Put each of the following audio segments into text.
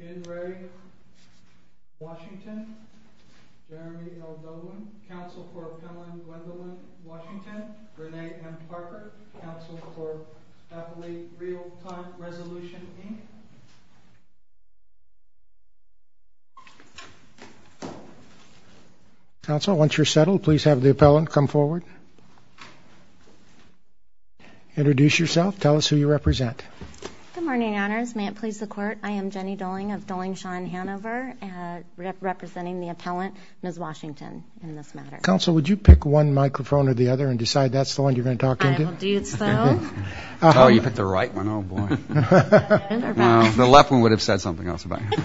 In re. Washington. Jeremy L. Dolan. Council for Appellant Gwendolyn Washington. Renee M. Parker. Council for Appellate Realtime Resolution, Inc. Council, once you're settled, please have the appellant come forward. Introduce yourself. Tell us who you represent. Good morning, Your Honors. May it please the Court, I am Jenny Dolan of Dolan-Shawn Hanover, representing the appellant, Ms. Washington, in this matter. Council, would you pick one microphone or the other and decide that's the one you're going to talk into? I will do so. Oh, you picked the right one. Oh, boy. The left one would have said something else about you.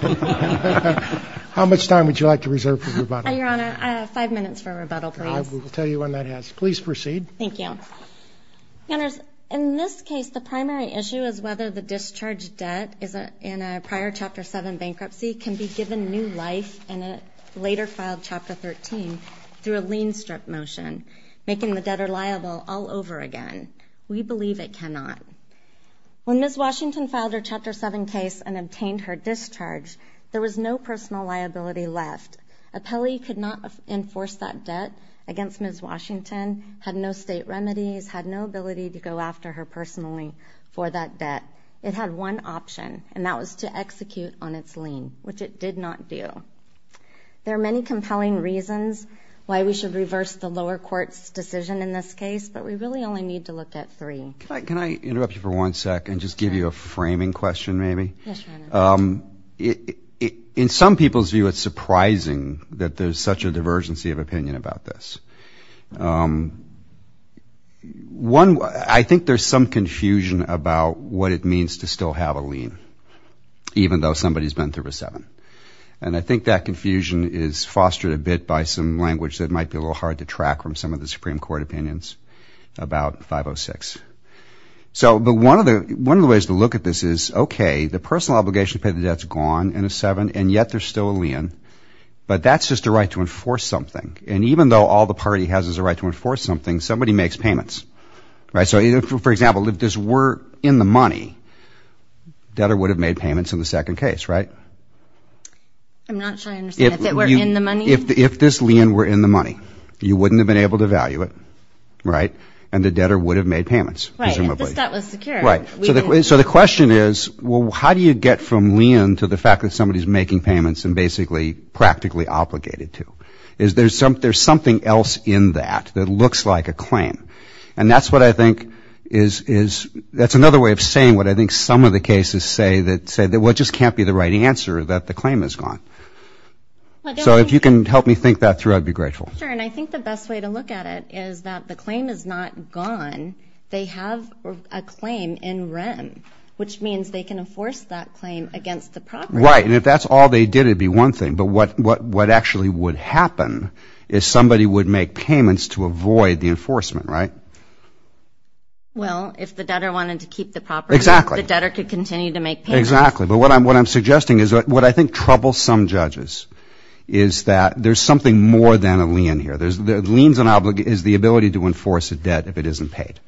How much time would you like to reserve for rebuttal? Your Honor, five minutes for rebuttal, please. I will tell you when that is. Please proceed. Thank you. Your Honors, in this case, the primary issue is whether the discharged debt in a prior Chapter 7 bankruptcy can be given new life in a later-filed Chapter 13 through a lien-strip motion, making the debtor liable all over again. We believe it cannot. When Ms. Washington filed her Chapter 7 case and obtained her discharge, there was no personal liability left. Appellee could not enforce that debt against Ms. Washington, had no state remedies, had no ability to go after her personally for that debt. It had one option, and that was to execute on its lien, which it did not do. There are many compelling reasons why we should reverse the lower court's decision in this case, but we really only need to look at three. Can I interrupt you for one second and just give you a framing question, maybe? Yes, Your Honor. In some people's view, it's surprising that there's such a divergency of opinion about this. One, I think there's some confusion about what it means to still have a lien, even though somebody's been through a 7. And I think that confusion is fostered a bit by some language that might be a little hard to track from some of the Supreme Court opinions about 506. But one of the ways to look at this is, okay, the personal obligation to pay the debt's gone in a 7, and yet there's still a lien, but that's just a right to enforce something. And even though all the party has is a right to enforce something, somebody makes payments. So, for example, if this were in the money, debtor would have made payments in the second case, right? I'm not sure I understand. If it were in the money? If this lien were in the money, you wouldn't have been able to value it, right? And the debtor would have made payments, presumably. Right, if the debt was secure. Right. So the question is, well, how do you get from lien to the fact that somebody's making payments and basically practically obligated to? Is there something else in that that looks like a claim? And that's what I think is, that's another way of saying what I think some of the cases say, that say, well, it just can't be the right answer, that the claim is gone. So if you can help me think that through, I'd be grateful. Sure, and I think the best way to look at it is that the claim is not gone. They have a claim in REM, which means they can enforce that claim against the property. Right. And if that's all they did, it would be one thing. But what actually would happen is somebody would make payments to avoid the enforcement, right? Well, if the debtor wanted to keep the property. Exactly. The debtor could continue to make payments. Exactly. But what I'm suggesting is what I think troubles some judges is that there's something more than a lien here. The lien is the ability to enforce a debt if it isn't paid,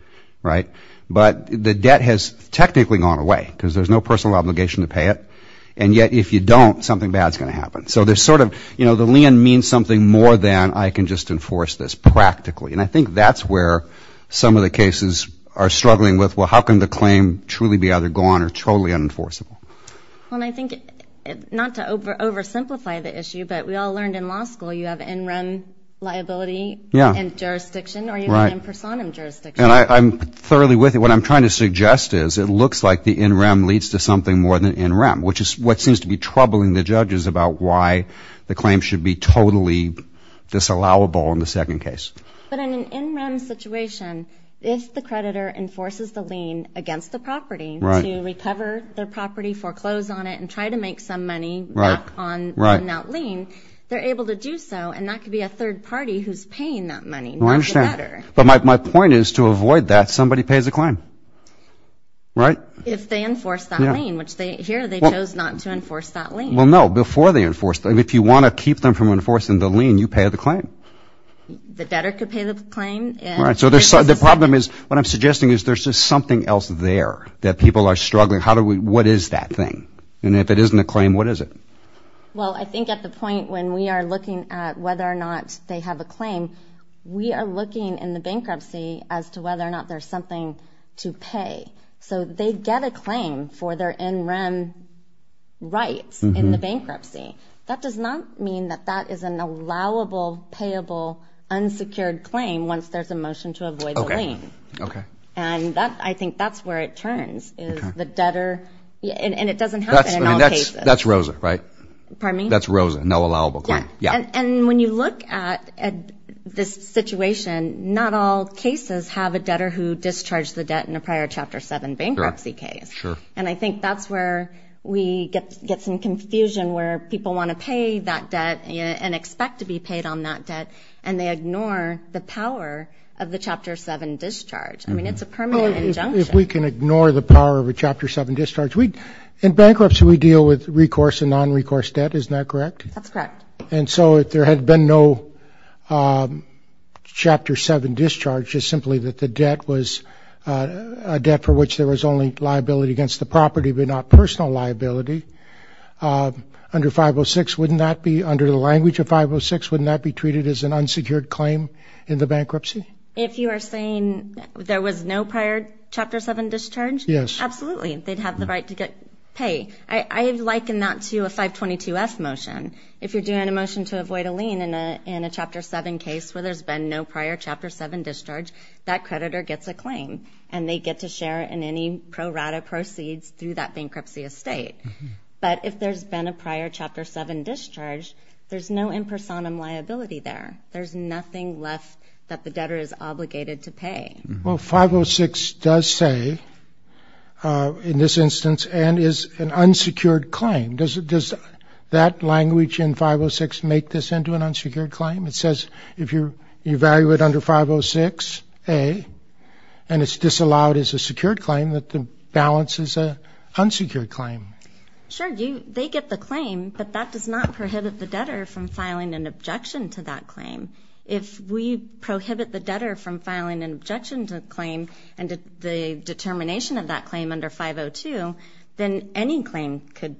right? But the debt has technically gone away because there's no personal obligation to pay it. And yet, if you don't, something bad is going to happen. So there's sort of, you know, the lien means something more than I can just enforce this practically. And I think that's where some of the cases are struggling with, well, how can the claim truly be either gone or totally unenforceable? Well, and I think, not to oversimplify the issue, but we all learned in law school, you have in REM liability and jurisdiction, or you have in personam jurisdiction. Right. And I'm thoroughly with you. What I'm trying to suggest is it looks like the in REM leads to something more than in REM, which is what seems to be troubling the judges about why the claim should be totally disallowable in the second case. But in an in REM situation, if the creditor enforces the lien against the property to recover their property, foreclose on it, and try to make some money back on that lien, they're able to do so, and that could be a third party who's paying that money, not the debtor. But my point is to avoid that, somebody pays the claim. Right? If they enforce that lien, which here they chose not to enforce that lien. Well, no, before they enforce it. If you want to keep them from enforcing the lien, you pay the claim. The debtor could pay the claim. Right. So the problem is, what I'm suggesting is there's just something else there that people are struggling. What is that thing? And if it isn't a claim, what is it? Well, I think at the point when we are looking at whether or not they have a claim, we are looking in the bankruptcy as to whether or not there's something to pay. So they get a claim for their in REM rights in the bankruptcy. That does not mean that that is an allowable, payable, unsecured claim once there's a motion to avoid the lien. Okay. And I think that's where it turns, is the debtor. And it doesn't happen in all cases. That's Rosa, right? Pardon me? That's Rosa, no allowable claim. Yeah. And when you look at this situation, not all cases have a debtor who discharged the debt in a prior Chapter 7 bankruptcy case. Correct. Sure. And I think that's where we get some confusion where people want to pay that debt and expect to be paid on that debt, and they ignore the power of the Chapter 7 discharge. I mean, it's a permanent injunction. If we can ignore the power of a Chapter 7 discharge. In bankruptcy, we deal with recourse and nonrecourse debt. Isn't that correct? That's correct. And so if there had been no Chapter 7 discharge, just simply that the debt was a debt for which there was only liability against the property but not personal liability, under 506, wouldn't that be, under the language of 506, wouldn't that be treated as an unsecured claim in the bankruptcy? If you are saying there was no prior Chapter 7 discharge? Yes. Absolutely. They'd have the right to pay. I liken that to a 522F motion. If you're doing a motion to avoid a lien in a Chapter 7 case where there's been no prior Chapter 7 discharge, that creditor gets a claim, and they get to share in any pro rata proceeds through that bankruptcy estate. But if there's been a prior Chapter 7 discharge, there's no impersonum liability there. There's nothing left that the debtor is obligated to pay. Well, 506 does say, in this instance, and is an unsecured claim. Does that language in 506 make this into an unsecured claim? It says if you evaluate under 506A and it's disallowed as a secured claim, that the balance is an unsecured claim. Sure. They get the claim, but that does not prohibit the debtor from filing an objection to that claim. If we prohibit the debtor from filing an objection to the claim and the determination of that claim under 502, then any claim could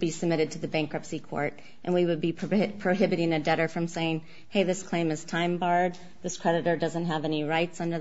be submitted to the bankruptcy court, and we would be prohibiting a debtor from saying, hey, this claim is time barred. This creditor doesn't have any rights under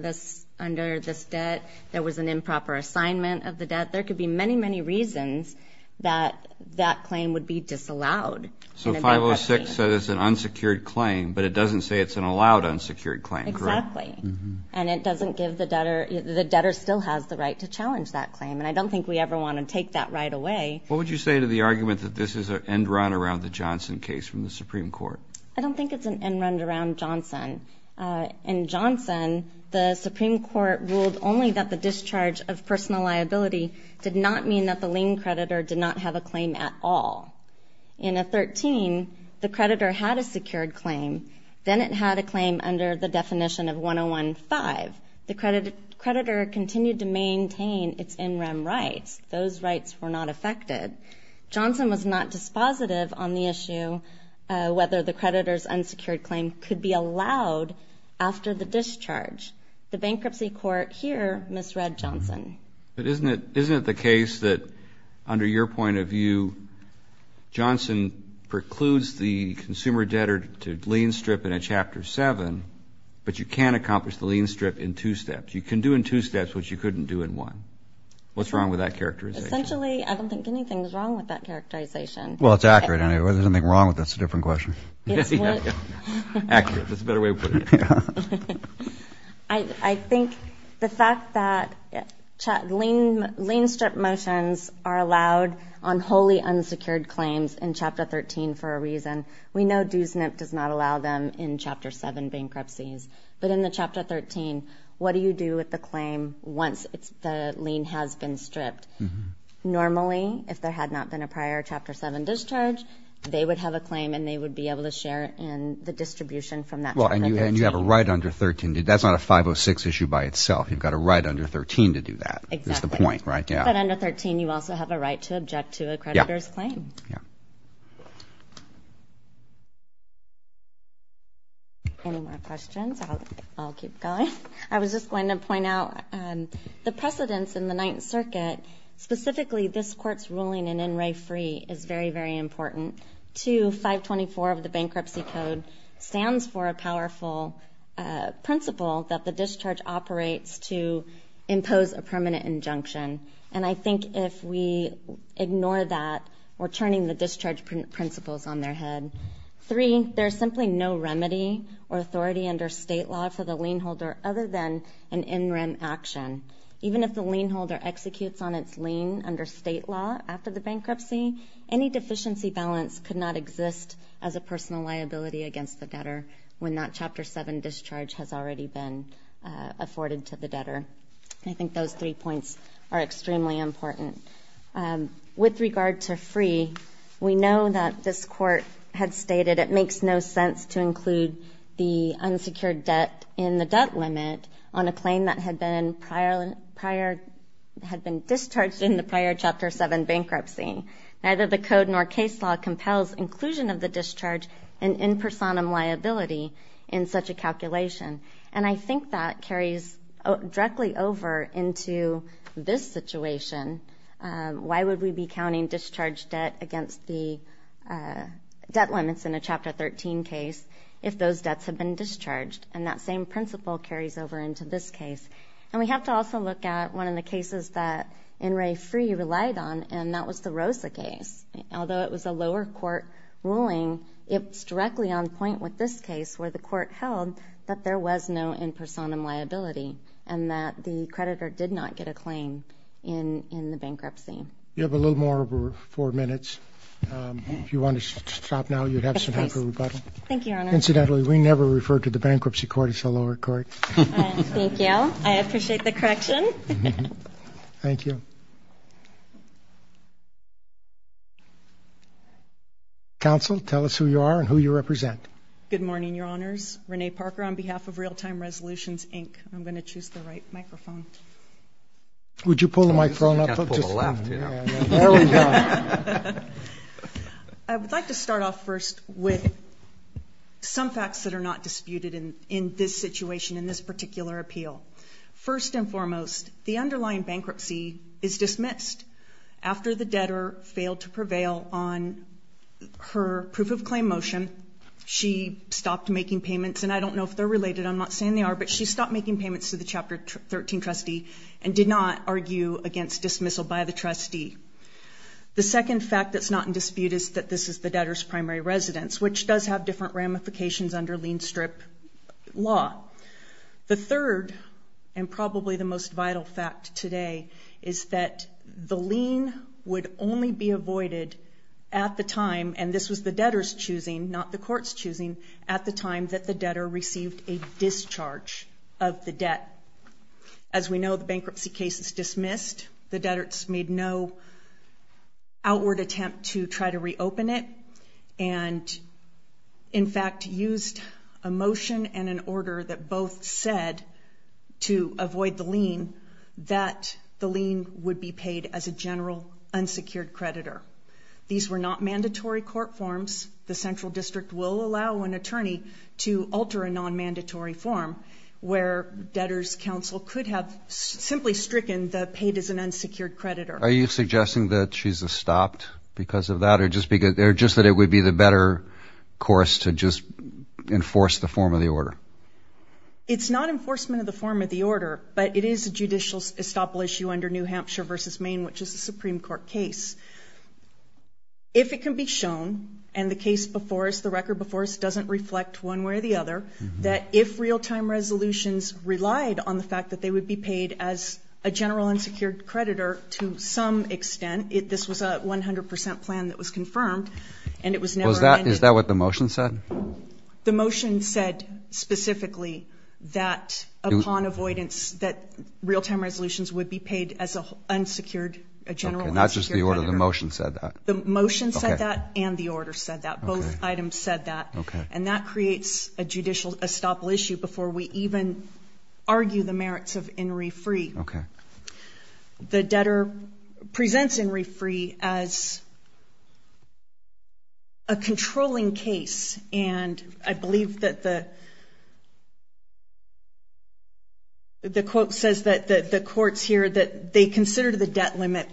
this debt. There was an improper assignment of the debt. There could be many, many reasons that that claim would be disallowed. So 506 says it's an unsecured claim, but it doesn't say it's an allowed unsecured claim, correct? Exactly. And it doesn't give the debtor the debtor still has the right to challenge that claim, and I don't think we ever want to take that right away. What would you say to the argument that this is an end run around the Johnson case from the Supreme Court? I don't think it's an end run around Johnson. In Johnson, the Supreme Court ruled only that the discharge of personal liability did not mean that the lien creditor did not have a claim at all. In a 13, the creditor had a secured claim. Then it had a claim under the definition of 101.5. The creditor continued to maintain its in rem rights. Those rights were not affected. Johnson was not dispositive on the issue whether the creditor's unsecured claim could be allowed after the discharge. The bankruptcy court here misread Johnson. But isn't it the case that under your point of view, Johnson precludes the consumer debtor to lien strip in a Chapter 7, but you can accomplish the lien strip in two steps? You can do in two steps what you couldn't do in one. What's wrong with that characterization? Essentially, I don't think anything's wrong with that characterization. Well, it's accurate anyway. There's nothing wrong with it. That's a different question. Accurate. That's a better way of putting it. I think the fact that lien strip motions are allowed on wholly unsecured claims in Chapter 13 for a reason. We know Do SNP does not allow them in Chapter 7 bankruptcies. But in the Chapter 13, what do you do with the claim once the lien has been stripped? Normally, if there had not been a prior Chapter 7 discharge, they would have a claim and they would be able to share in the distribution from that Chapter 13. Well, and you have a right under 13. That's not a 506 issue by itself. You've got a right under 13 to do that. Exactly. That's the point, right? Yeah. But under 13, you also have a right to object to a creditor's claim. Yeah. Any more questions? I'll keep going. I was just going to point out the precedents in the Ninth Circuit. Specifically, this Court's ruling in In Re Free is very, very important. Two, 524 of the Bankruptcy Code stands for a powerful principle that the discharge operates to impose a permanent injunction. And I think if we ignore that, we're turning the discharge principles on their head. Three, there's simply no remedy or authority under state law for the lien holder other than an in rem action. Even if the lien holder executes on its lien under state law after the bankruptcy, any deficiency balance could not exist as a personal liability against the debtor when that Chapter 7 discharge has already been afforded to the debtor. I think those three points are extremely important. With regard to free, we know that this Court had stated it makes no sense to include the unsecured debt in the debt limit on a claim that had been discharged in the prior Chapter 7 bankruptcy. Neither the Code nor case law compels inclusion of the discharge in in personam liability in such a calculation. And I think that carries directly over into this situation. Why would we be counting discharge debt against the debt limits in a Chapter 13 case if those debts have been discharged? And that same principle carries over into this case. And we have to also look at one of the cases that N. Ray Free relied on, and that was the Rosa case. Although it was a lower court ruling, it's directly on point with this case where the court held that there was no in personam liability and that the creditor did not get a claim in the bankruptcy. You have a little more over four minutes. If you want to stop now, you have some time for rebuttal. Thank you, Your Honor. Incidentally, we never refer to the bankruptcy court as the lower court. Thank you. I appreciate the correction. Thank you. Counsel, tell us who you are and who you represent. Good morning, Your Honors. Renee Parker on behalf of Real Time Resolutions, Inc. I'm going to choose the right microphone. Would you pull the microphone up? You've got to pull the left, you know. There we go. I would like to start off first with some facts that are not disputed in this situation, in this particular appeal. First and foremost, the underlying bankruptcy is dismissed. After the debtor failed to prevail on her proof of claim motion, she stopped making payments, and I don't know if they're related, I'm not saying they are, but she stopped making payments to the Chapter 13 trustee and did not argue against dismissal by the trustee. The second fact that's not in dispute is that this is the debtor's primary residence, which does have different ramifications under lien strip law. The third and probably the most vital fact today is that the lien would only be avoided at the time, and this was the debtor's choosing, not the court's choosing, at the time that the debtor received a discharge of the debt. As we know, the bankruptcy case is dismissed. The debtors made no outward attempt to try to reopen it, and in fact used a motion and an order that both said to avoid the lien that the lien would be paid as a general unsecured creditor. These were not mandatory court forms. The Central District will allow an attorney to alter a non-mandatory form where debtors' counsel could have simply stricken the paid as an unsecured creditor. Are you suggesting that she's stopped because of that or just that it would be the better course to just enforce the form of the order? It's not enforcement of the form of the order, but it is a judicial estoppel issue under New Hampshire v. Maine, which is a Supreme Court case. If it can be shown, and the case before us, the record before us doesn't reflect one way or the other, that if real-time resolutions relied on the fact that they would be paid as a general unsecured creditor to some extent, this was a 100 percent plan that was confirmed and it was never amended. Is that what the motion said? The motion said specifically that upon avoidance that real-time resolutions would be paid as a unsecured, a general unsecured creditor. Okay, not just the order. The motion said that. The motion said that and the order said that. Both items said that. Okay. And that creates a judicial estoppel issue before we even argue the merits of in re free. Okay. The debtor presents in re free as a controlling case, and I believe that the quote says that the courts here that they consider the debt limit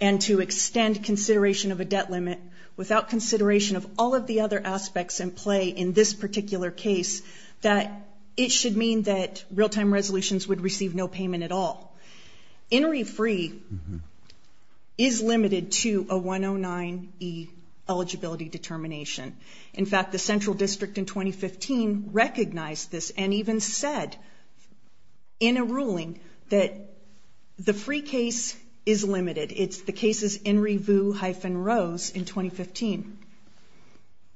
and to extend consideration of a debt limit without consideration of all of the other aspects in play in this particular case, that it should mean that real-time resolutions would receive no payment at all. In re free is limited to a 109E eligibility determination. In fact, the central district in 2015 recognized this and even said in a ruling that the free case is limited. It's the cases in revue hyphen rose in 2015.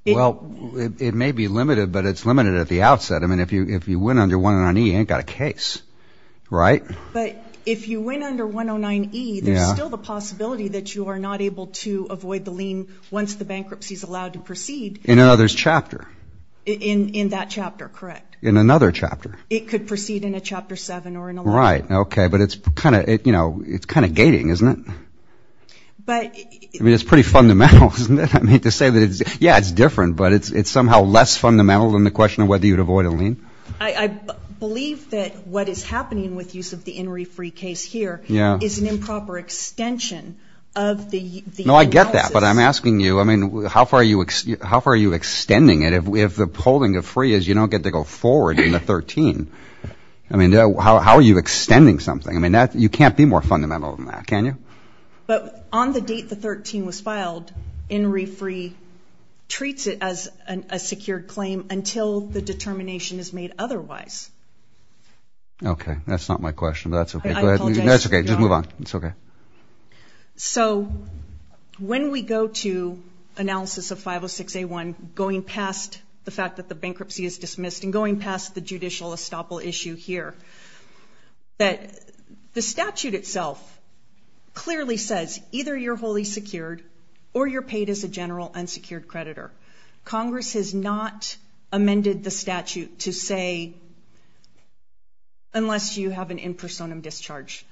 Well, it may be limited, but it's limited at the outset. I mean, if you win under 109E, you ain't got a case, right? But if you win under 109E, there's still the possibility that you are not able to avoid the lien once the bankruptcy is allowed to proceed. In another chapter. In that chapter, correct. In another chapter. It could proceed in a chapter seven or in a letter. Right. Okay. But it's kind of, you know, it's kind of gating, isn't it? But. I mean, it's pretty fundamental, isn't it? I mean, to say that it's, yeah, it's different, but it's somehow less fundamental than the question of whether you would avoid a lien. I believe that what is happening with use of the in re free case here is an improper extension of the. No, I get that. But I'm asking you, I mean, how far are you? How far are you extending it? If the polling of free is you don't get to go forward in the 13. I mean, how are you extending something? I mean, you can't be more fundamental than that, can you? But on the date the 13 was filed in re free treats it as a secured claim until the determination is made otherwise. Okay. That's not my question. That's okay. That's okay. Just move on. It's okay. So when we go to analysis of 506 a one going past the fact that the bankruptcy is dismissed and going past the judicial estoppel issue here. That the statute itself clearly says either you're wholly secured or you're paid as a general unsecured creditor. Congress has not amended the statute to say unless you have an in personam discharge.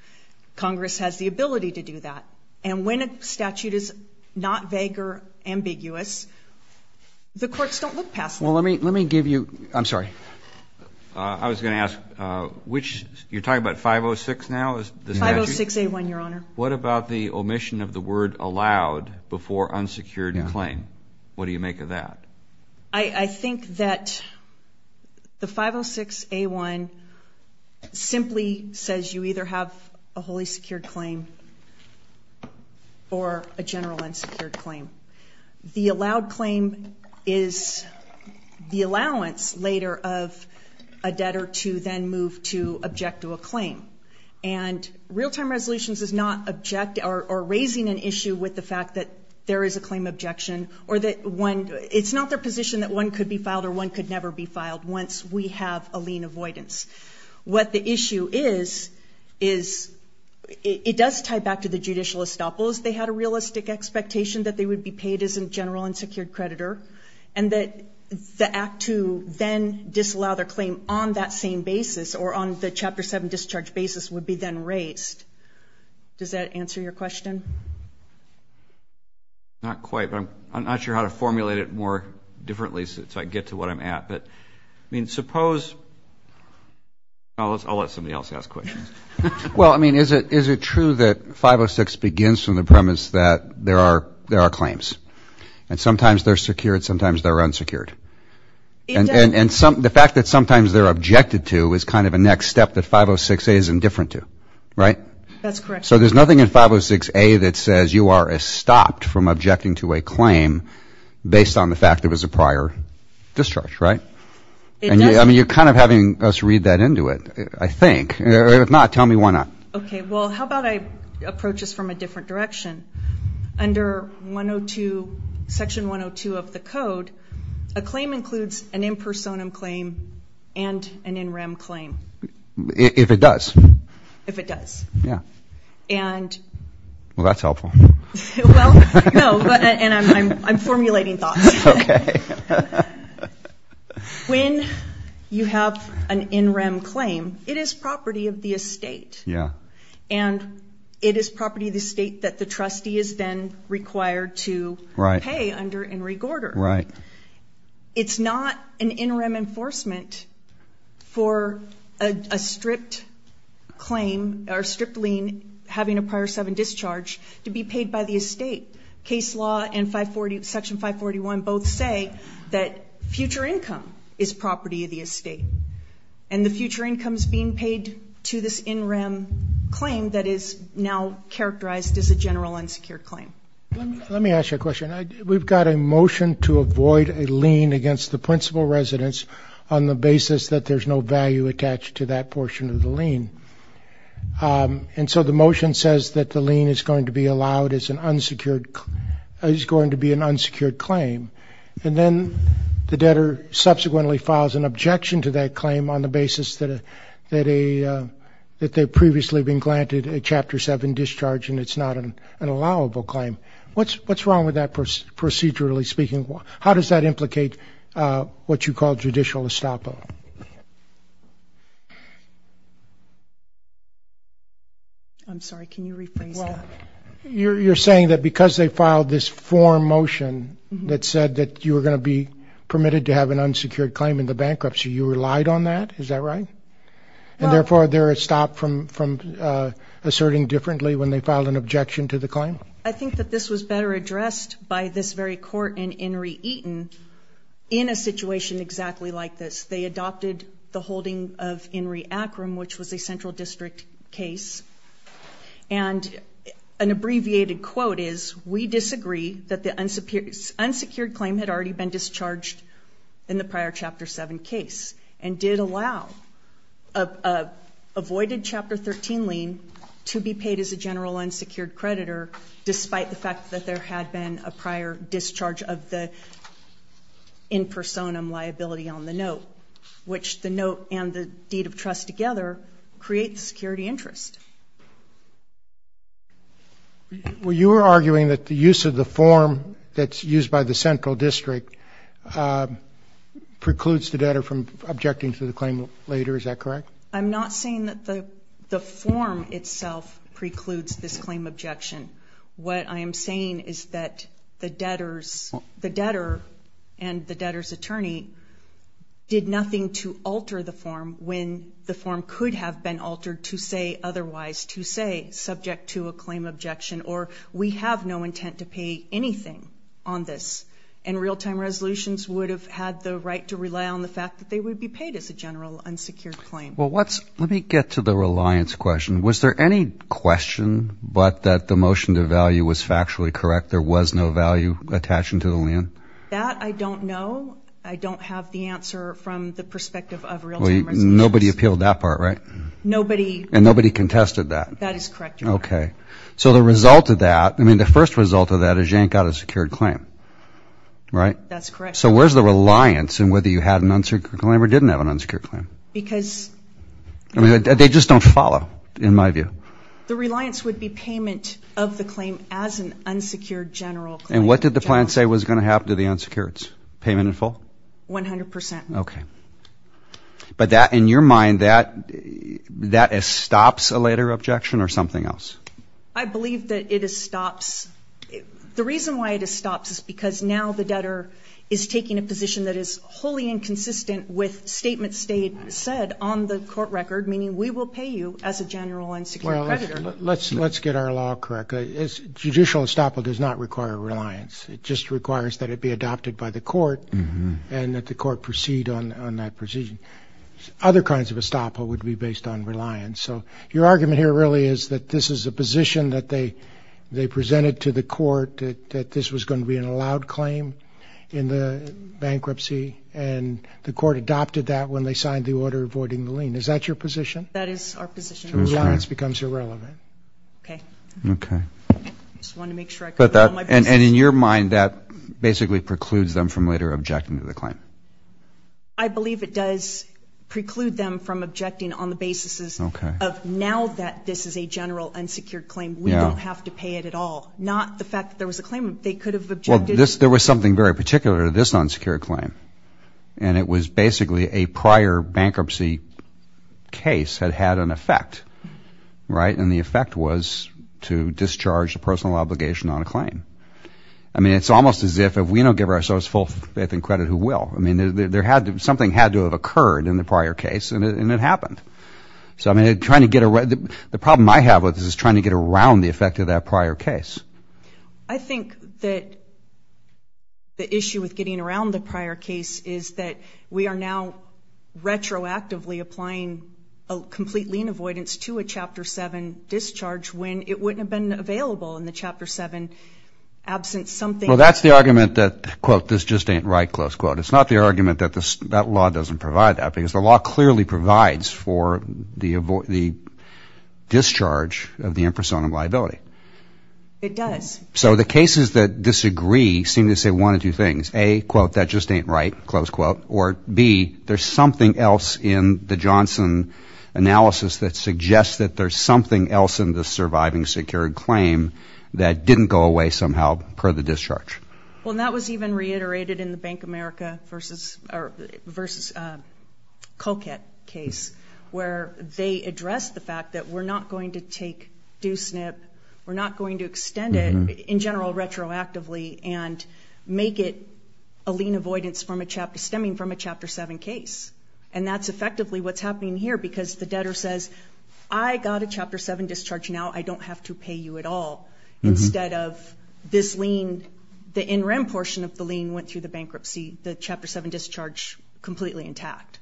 Congress has the ability to do that. And when a statute is not vague or ambiguous, the courts don't look past that. Well, let me give you, I'm sorry. I was going to ask which you're talking about. 506 now is 506 a one. Your Honor. What about the omission of the word allowed before unsecured claim? What do you make of that? I think that the 506 a one simply says you either have a wholly secured claim or a general unsecured claim. The allowed claim is the allowance later of a debtor to then move to object to a claim. And real time resolutions is not object or raising an issue with the fact that there is a claim objection or that one, it's not their position that one could be filed or one could never be filed once we have a lien avoidance. What the issue is, is it does tie back to the judicial estoppels. They had a realistic expectation that they would be paid as a general unsecured creditor. And that the act to then disallow their claim on that same basis or on the Chapter 7 discharge basis would be then raised. Does that answer your question? Not quite, but I'm not sure how to formulate it more differently so I can get to where I'm at. But, I mean, suppose, I'll let somebody else ask questions. Well, I mean, is it true that 506 begins from the premise that there are claims? And sometimes they're secured, sometimes they're unsecured. And the fact that sometimes they're objected to is kind of a next step that 506a is indifferent to, right? That's correct. So there's nothing in 506a that says you are stopped from objecting to a claim based on the fact there was a prior discharge, right? I mean, you're kind of having us read that into it, I think. If not, tell me why not. Okay. Well, how about I approach this from a different direction? Under Section 102 of the Code, a claim includes an impersonum claim and an in rem claim. If it does. If it does. Yeah. Well, that's helpful. Well, no, and I'm formulating thoughts. Okay. When you have an in rem claim, it is property of the estate. Yeah. And it is property of the state that the trustee is then required to pay under Henry Gorder. Right. It's not an in rem enforcement for a stripped claim or stripped lien having a prior sub and discharge to be paid by the estate. Case law and Section 541 both say that future income is property of the estate. And the future income is being paid to this in rem claim that is now characterized as a general unsecured claim. Let me ask you a question. We've got a motion to avoid a lien against the principal residence on the basis that there's no value attached to that portion of the lien. And so the motion says that the lien is going to be allowed as an unsecured, is going to be an unsecured claim. And then the debtor subsequently files an objection to that claim on the basis that a, that a, that they've previously been granted a Chapter 7 discharge and it's not an allowable claim. What's, what's wrong with that procedurally speaking? How does that implicate what you call judicial estoppel? I'm sorry. Can you rephrase that? You're, you're saying that because they filed this form motion that said that you were going to be permitted to have an unsecured claim in the bankruptcy, you relied on that. Is that right? And therefore, there is stop from, from asserting differently when they filed an objection to the claim. I think that this was better addressed by this very court in Henry Eaton in a situation exactly like this. They adopted the holding of Henry Akram, which was a central district case. And an abbreviated quote is, we disagree that the unsecured, unsecured claim had already been discharged in the prior Chapter 7 case. And did allow, avoided Chapter 13 lien to be paid as a general unsecured creditor, despite the fact that there had been a prior discharge of the in personam liability on the note. Which the note and the deed of trust together creates security interest. Well, you were arguing that the use of the form that's used by the central district precludes the debtor from objecting to the claim later. Is that correct? I'm not saying that the form itself precludes this claim objection. What I am saying is that the debtors, the debtor and the debtor's attorney did nothing to alter the form when the form could have been altered to say otherwise, to say subject to a claim objection or we have no intent to pay anything on this. And real-time resolutions would have had the right to rely on the fact that they would be paid as a general unsecured claim. Well, let me get to the reliance question. Was there any question but that the motion to value was factually correct? There was no value attaching to the lien? That I don't know. I don't have the answer from the perspective of real-time resolutions. Nobody appealed that part, right? Nobody. And nobody contested that. That is correct, Your Honor. Okay. So the result of that, I mean, the first result of that is you ain't got a secured claim, right? That's correct. So where's the reliance in whether you had an unsecured claim or didn't have an unsecured claim? Because they just don't follow in my view. The reliance would be payment of the claim as an unsecured general claim. And what did the plan say was going to happen to the unsecureds? Payment in full? One hundred percent. Okay. But that, in your mind, that stops a later objection or something else? I believe that it stops. The reason why it stops is because now the debtor is taking a position that is wholly inconsistent with statements said on the court record, meaning we will pay you as a general unsecured creditor. Well, let's get our law correct. Judicial estoppel does not require reliance. It just requires that it be adopted by the court and that the court proceed on that procedure. Other kinds of estoppel would be based on reliance. So your argument here really is that this is a position that they presented to the court, that this was going to be an allowed claim in the bankruptcy, and the court adopted that when they signed the order avoiding the lien. Is that your position? That is our position. So reliance becomes irrelevant. Okay. Okay. I just wanted to make sure I got that on my basis. And in your mind, that basically precludes them from later objecting to the claim? I believe it does preclude them from objecting on the basis of now that this is a general unsecured claim, we don't have to pay it at all, not the fact that there was a claimant. They could have objected. Well, there was something very particular to this unsecured claim, and it was basically a prior bankruptcy case had had an effect, right? And the effect was to discharge a personal obligation on a claim. I mean, it's almost as if if we don't give ourselves full faith and credit, who will? I mean, something had to have occurred in the prior case, and it happened. So, I mean, the problem I have with this is trying to get around the effect of that prior case. I think that the issue with getting around the prior case is that we are now retroactively applying a complete lien avoidance to a Chapter 7 discharge when it wouldn't have been available in the Chapter 7 absence. Well, that's the argument that, quote, this just ain't right, close quote. It's not the argument that that law doesn't provide that, because the law clearly provides for the discharge of the impersonal liability. It does. So the cases that disagree seem to say one of two things. A, quote, that just ain't right, close quote, or B, there's something else in the Johnson analysis that suggests that there's something else in the surviving secured claim that didn't go away somehow per the discharge. Well, and that was even reiterated in the Bank of America versus Colquitt case, where they addressed the fact that we're not going to take due snip, we're not going to extend it in general retroactively and make it a lien avoidance stemming from a Chapter 7 case. And that's effectively what's happening here because the debtor says, I got a Chapter 7 discharge now, I don't have to pay you at all. Instead of this lien, the in rem portion of the lien went through the bankruptcy, the Chapter 7 discharge completely intact.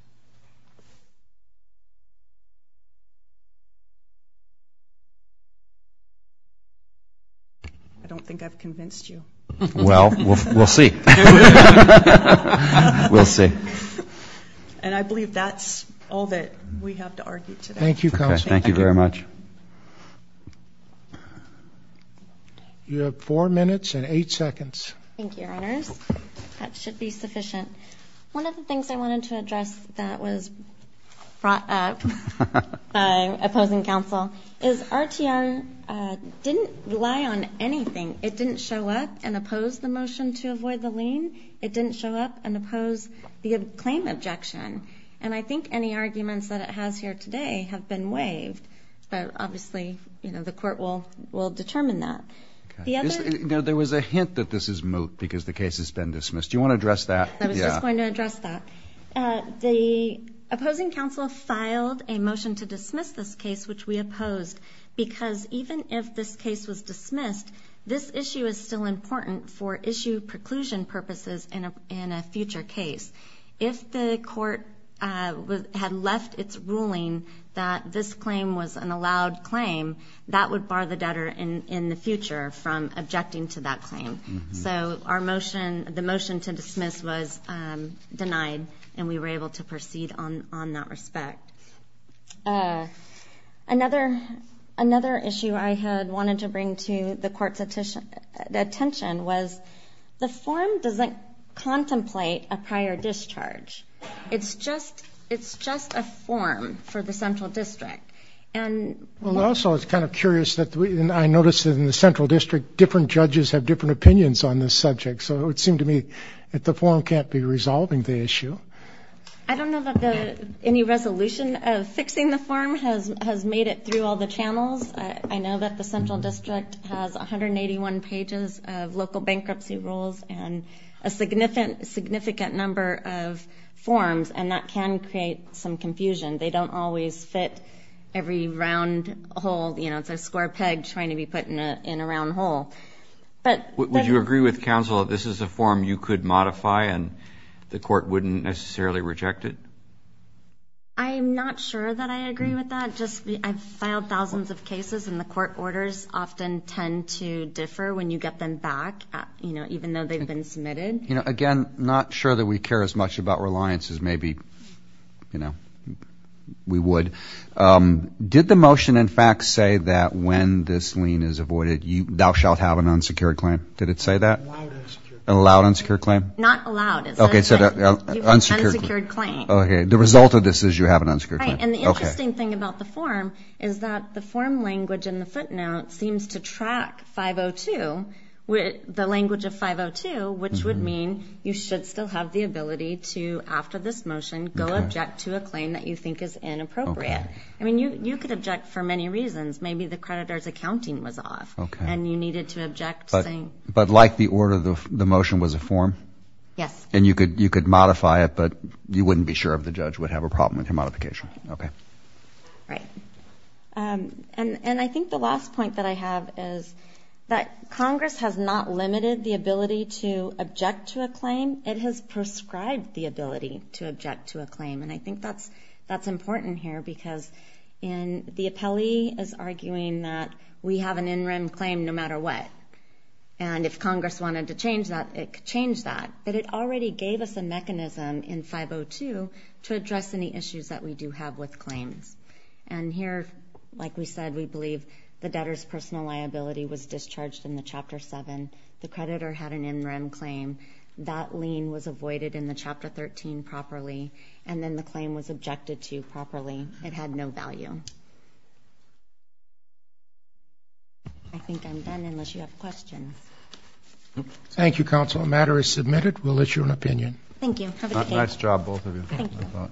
I don't think I've convinced you. Well, we'll see. We'll see. And I believe that's all that we have to argue today. Thank you, Counsel. Thank you very much. You have four minutes and eight seconds. Thank you, Your Honors. That should be sufficient. One of the things I wanted to address, that was brought up by opposing counsel, is RTM didn't rely on anything. It didn't show up and oppose the motion to avoid the lien. It didn't show up and oppose the claim objection. And I think any arguments that it has here today have been waived, but obviously the court will determine that. There was a hint that this is moot because the case has been dismissed. Do you want to address that? I was just going to address that. The opposing counsel filed a motion to dismiss this case, which we opposed, because even if this case was dismissed, this issue is still important for issue preclusion purposes in a future case. If the court had left its ruling that this claim was an allowed claim, that would bar the debtor in the future from objecting to that claim. So the motion to dismiss was denied, and we were able to proceed on that respect. Another issue I had wanted to bring to the court's attention was, the form doesn't contemplate a prior discharge. It's just a form for the central district. Well, I also was kind of curious, and I noticed that in the central district, different judges have different opinions on this subject, so it seemed to me that the form can't be resolving the issue. I don't know that any resolution of fixing the form has made it through all the channels. I know that the central district has 181 pages of local bankruptcy rules and a significant number of forms, and that can create some confusion. They don't always fit every round hole. It's a square peg trying to be put in a round hole. Would you agree with counsel that this is a form you could modify and the court wouldn't necessarily reject it? I'm not sure that I agree with that. I've filed thousands of cases, and the court orders often tend to differ when you get them back, even though they've been submitted. Again, not sure that we care as much about reliance as maybe we would. Did the motion, in fact, say that when this lien is avoided, thou shalt have an unsecured claim? Did it say that? Allowed unsecured claim. Allowed unsecured claim? Not allowed. Okay, it said unsecured claim. Okay, the result of this is you have an unsecured claim. Right, and the interesting thing about the form is that the form language in the footnote seems to track 502, the language of 502, which would mean you should still have the ability to, after this motion, go object to a claim that you think is inappropriate. I mean, you could object for many reasons. Maybe the creditor's accounting was off, and you needed to object. But like the order, the motion was a form? Yes. And you could modify it, but you wouldn't be sure if the judge would have a problem with your modification. Okay. Right. And I think the last point that I have is that Congress has not limited the ability to object to a claim. It has prescribed the ability to object to a claim, and I think that's important here because the appellee is arguing that we have an in-rem claim no matter what. And if Congress wanted to change that, it could change that. But it already gave us a mechanism in 502 to address any issues that we do have with claims. And here, like we said, we believe the debtor's personal liability was discharged in the Chapter 7. The creditor had an in-rem claim. That lien was avoided in the Chapter 13 properly, and then the claim was objected to properly. It had no value. I think I'm done unless you have questions. Thank you, Counsel. The matter is submitted. We'll issue an opinion. Thank you. Have a good day. Nice job, both of you. Thank you.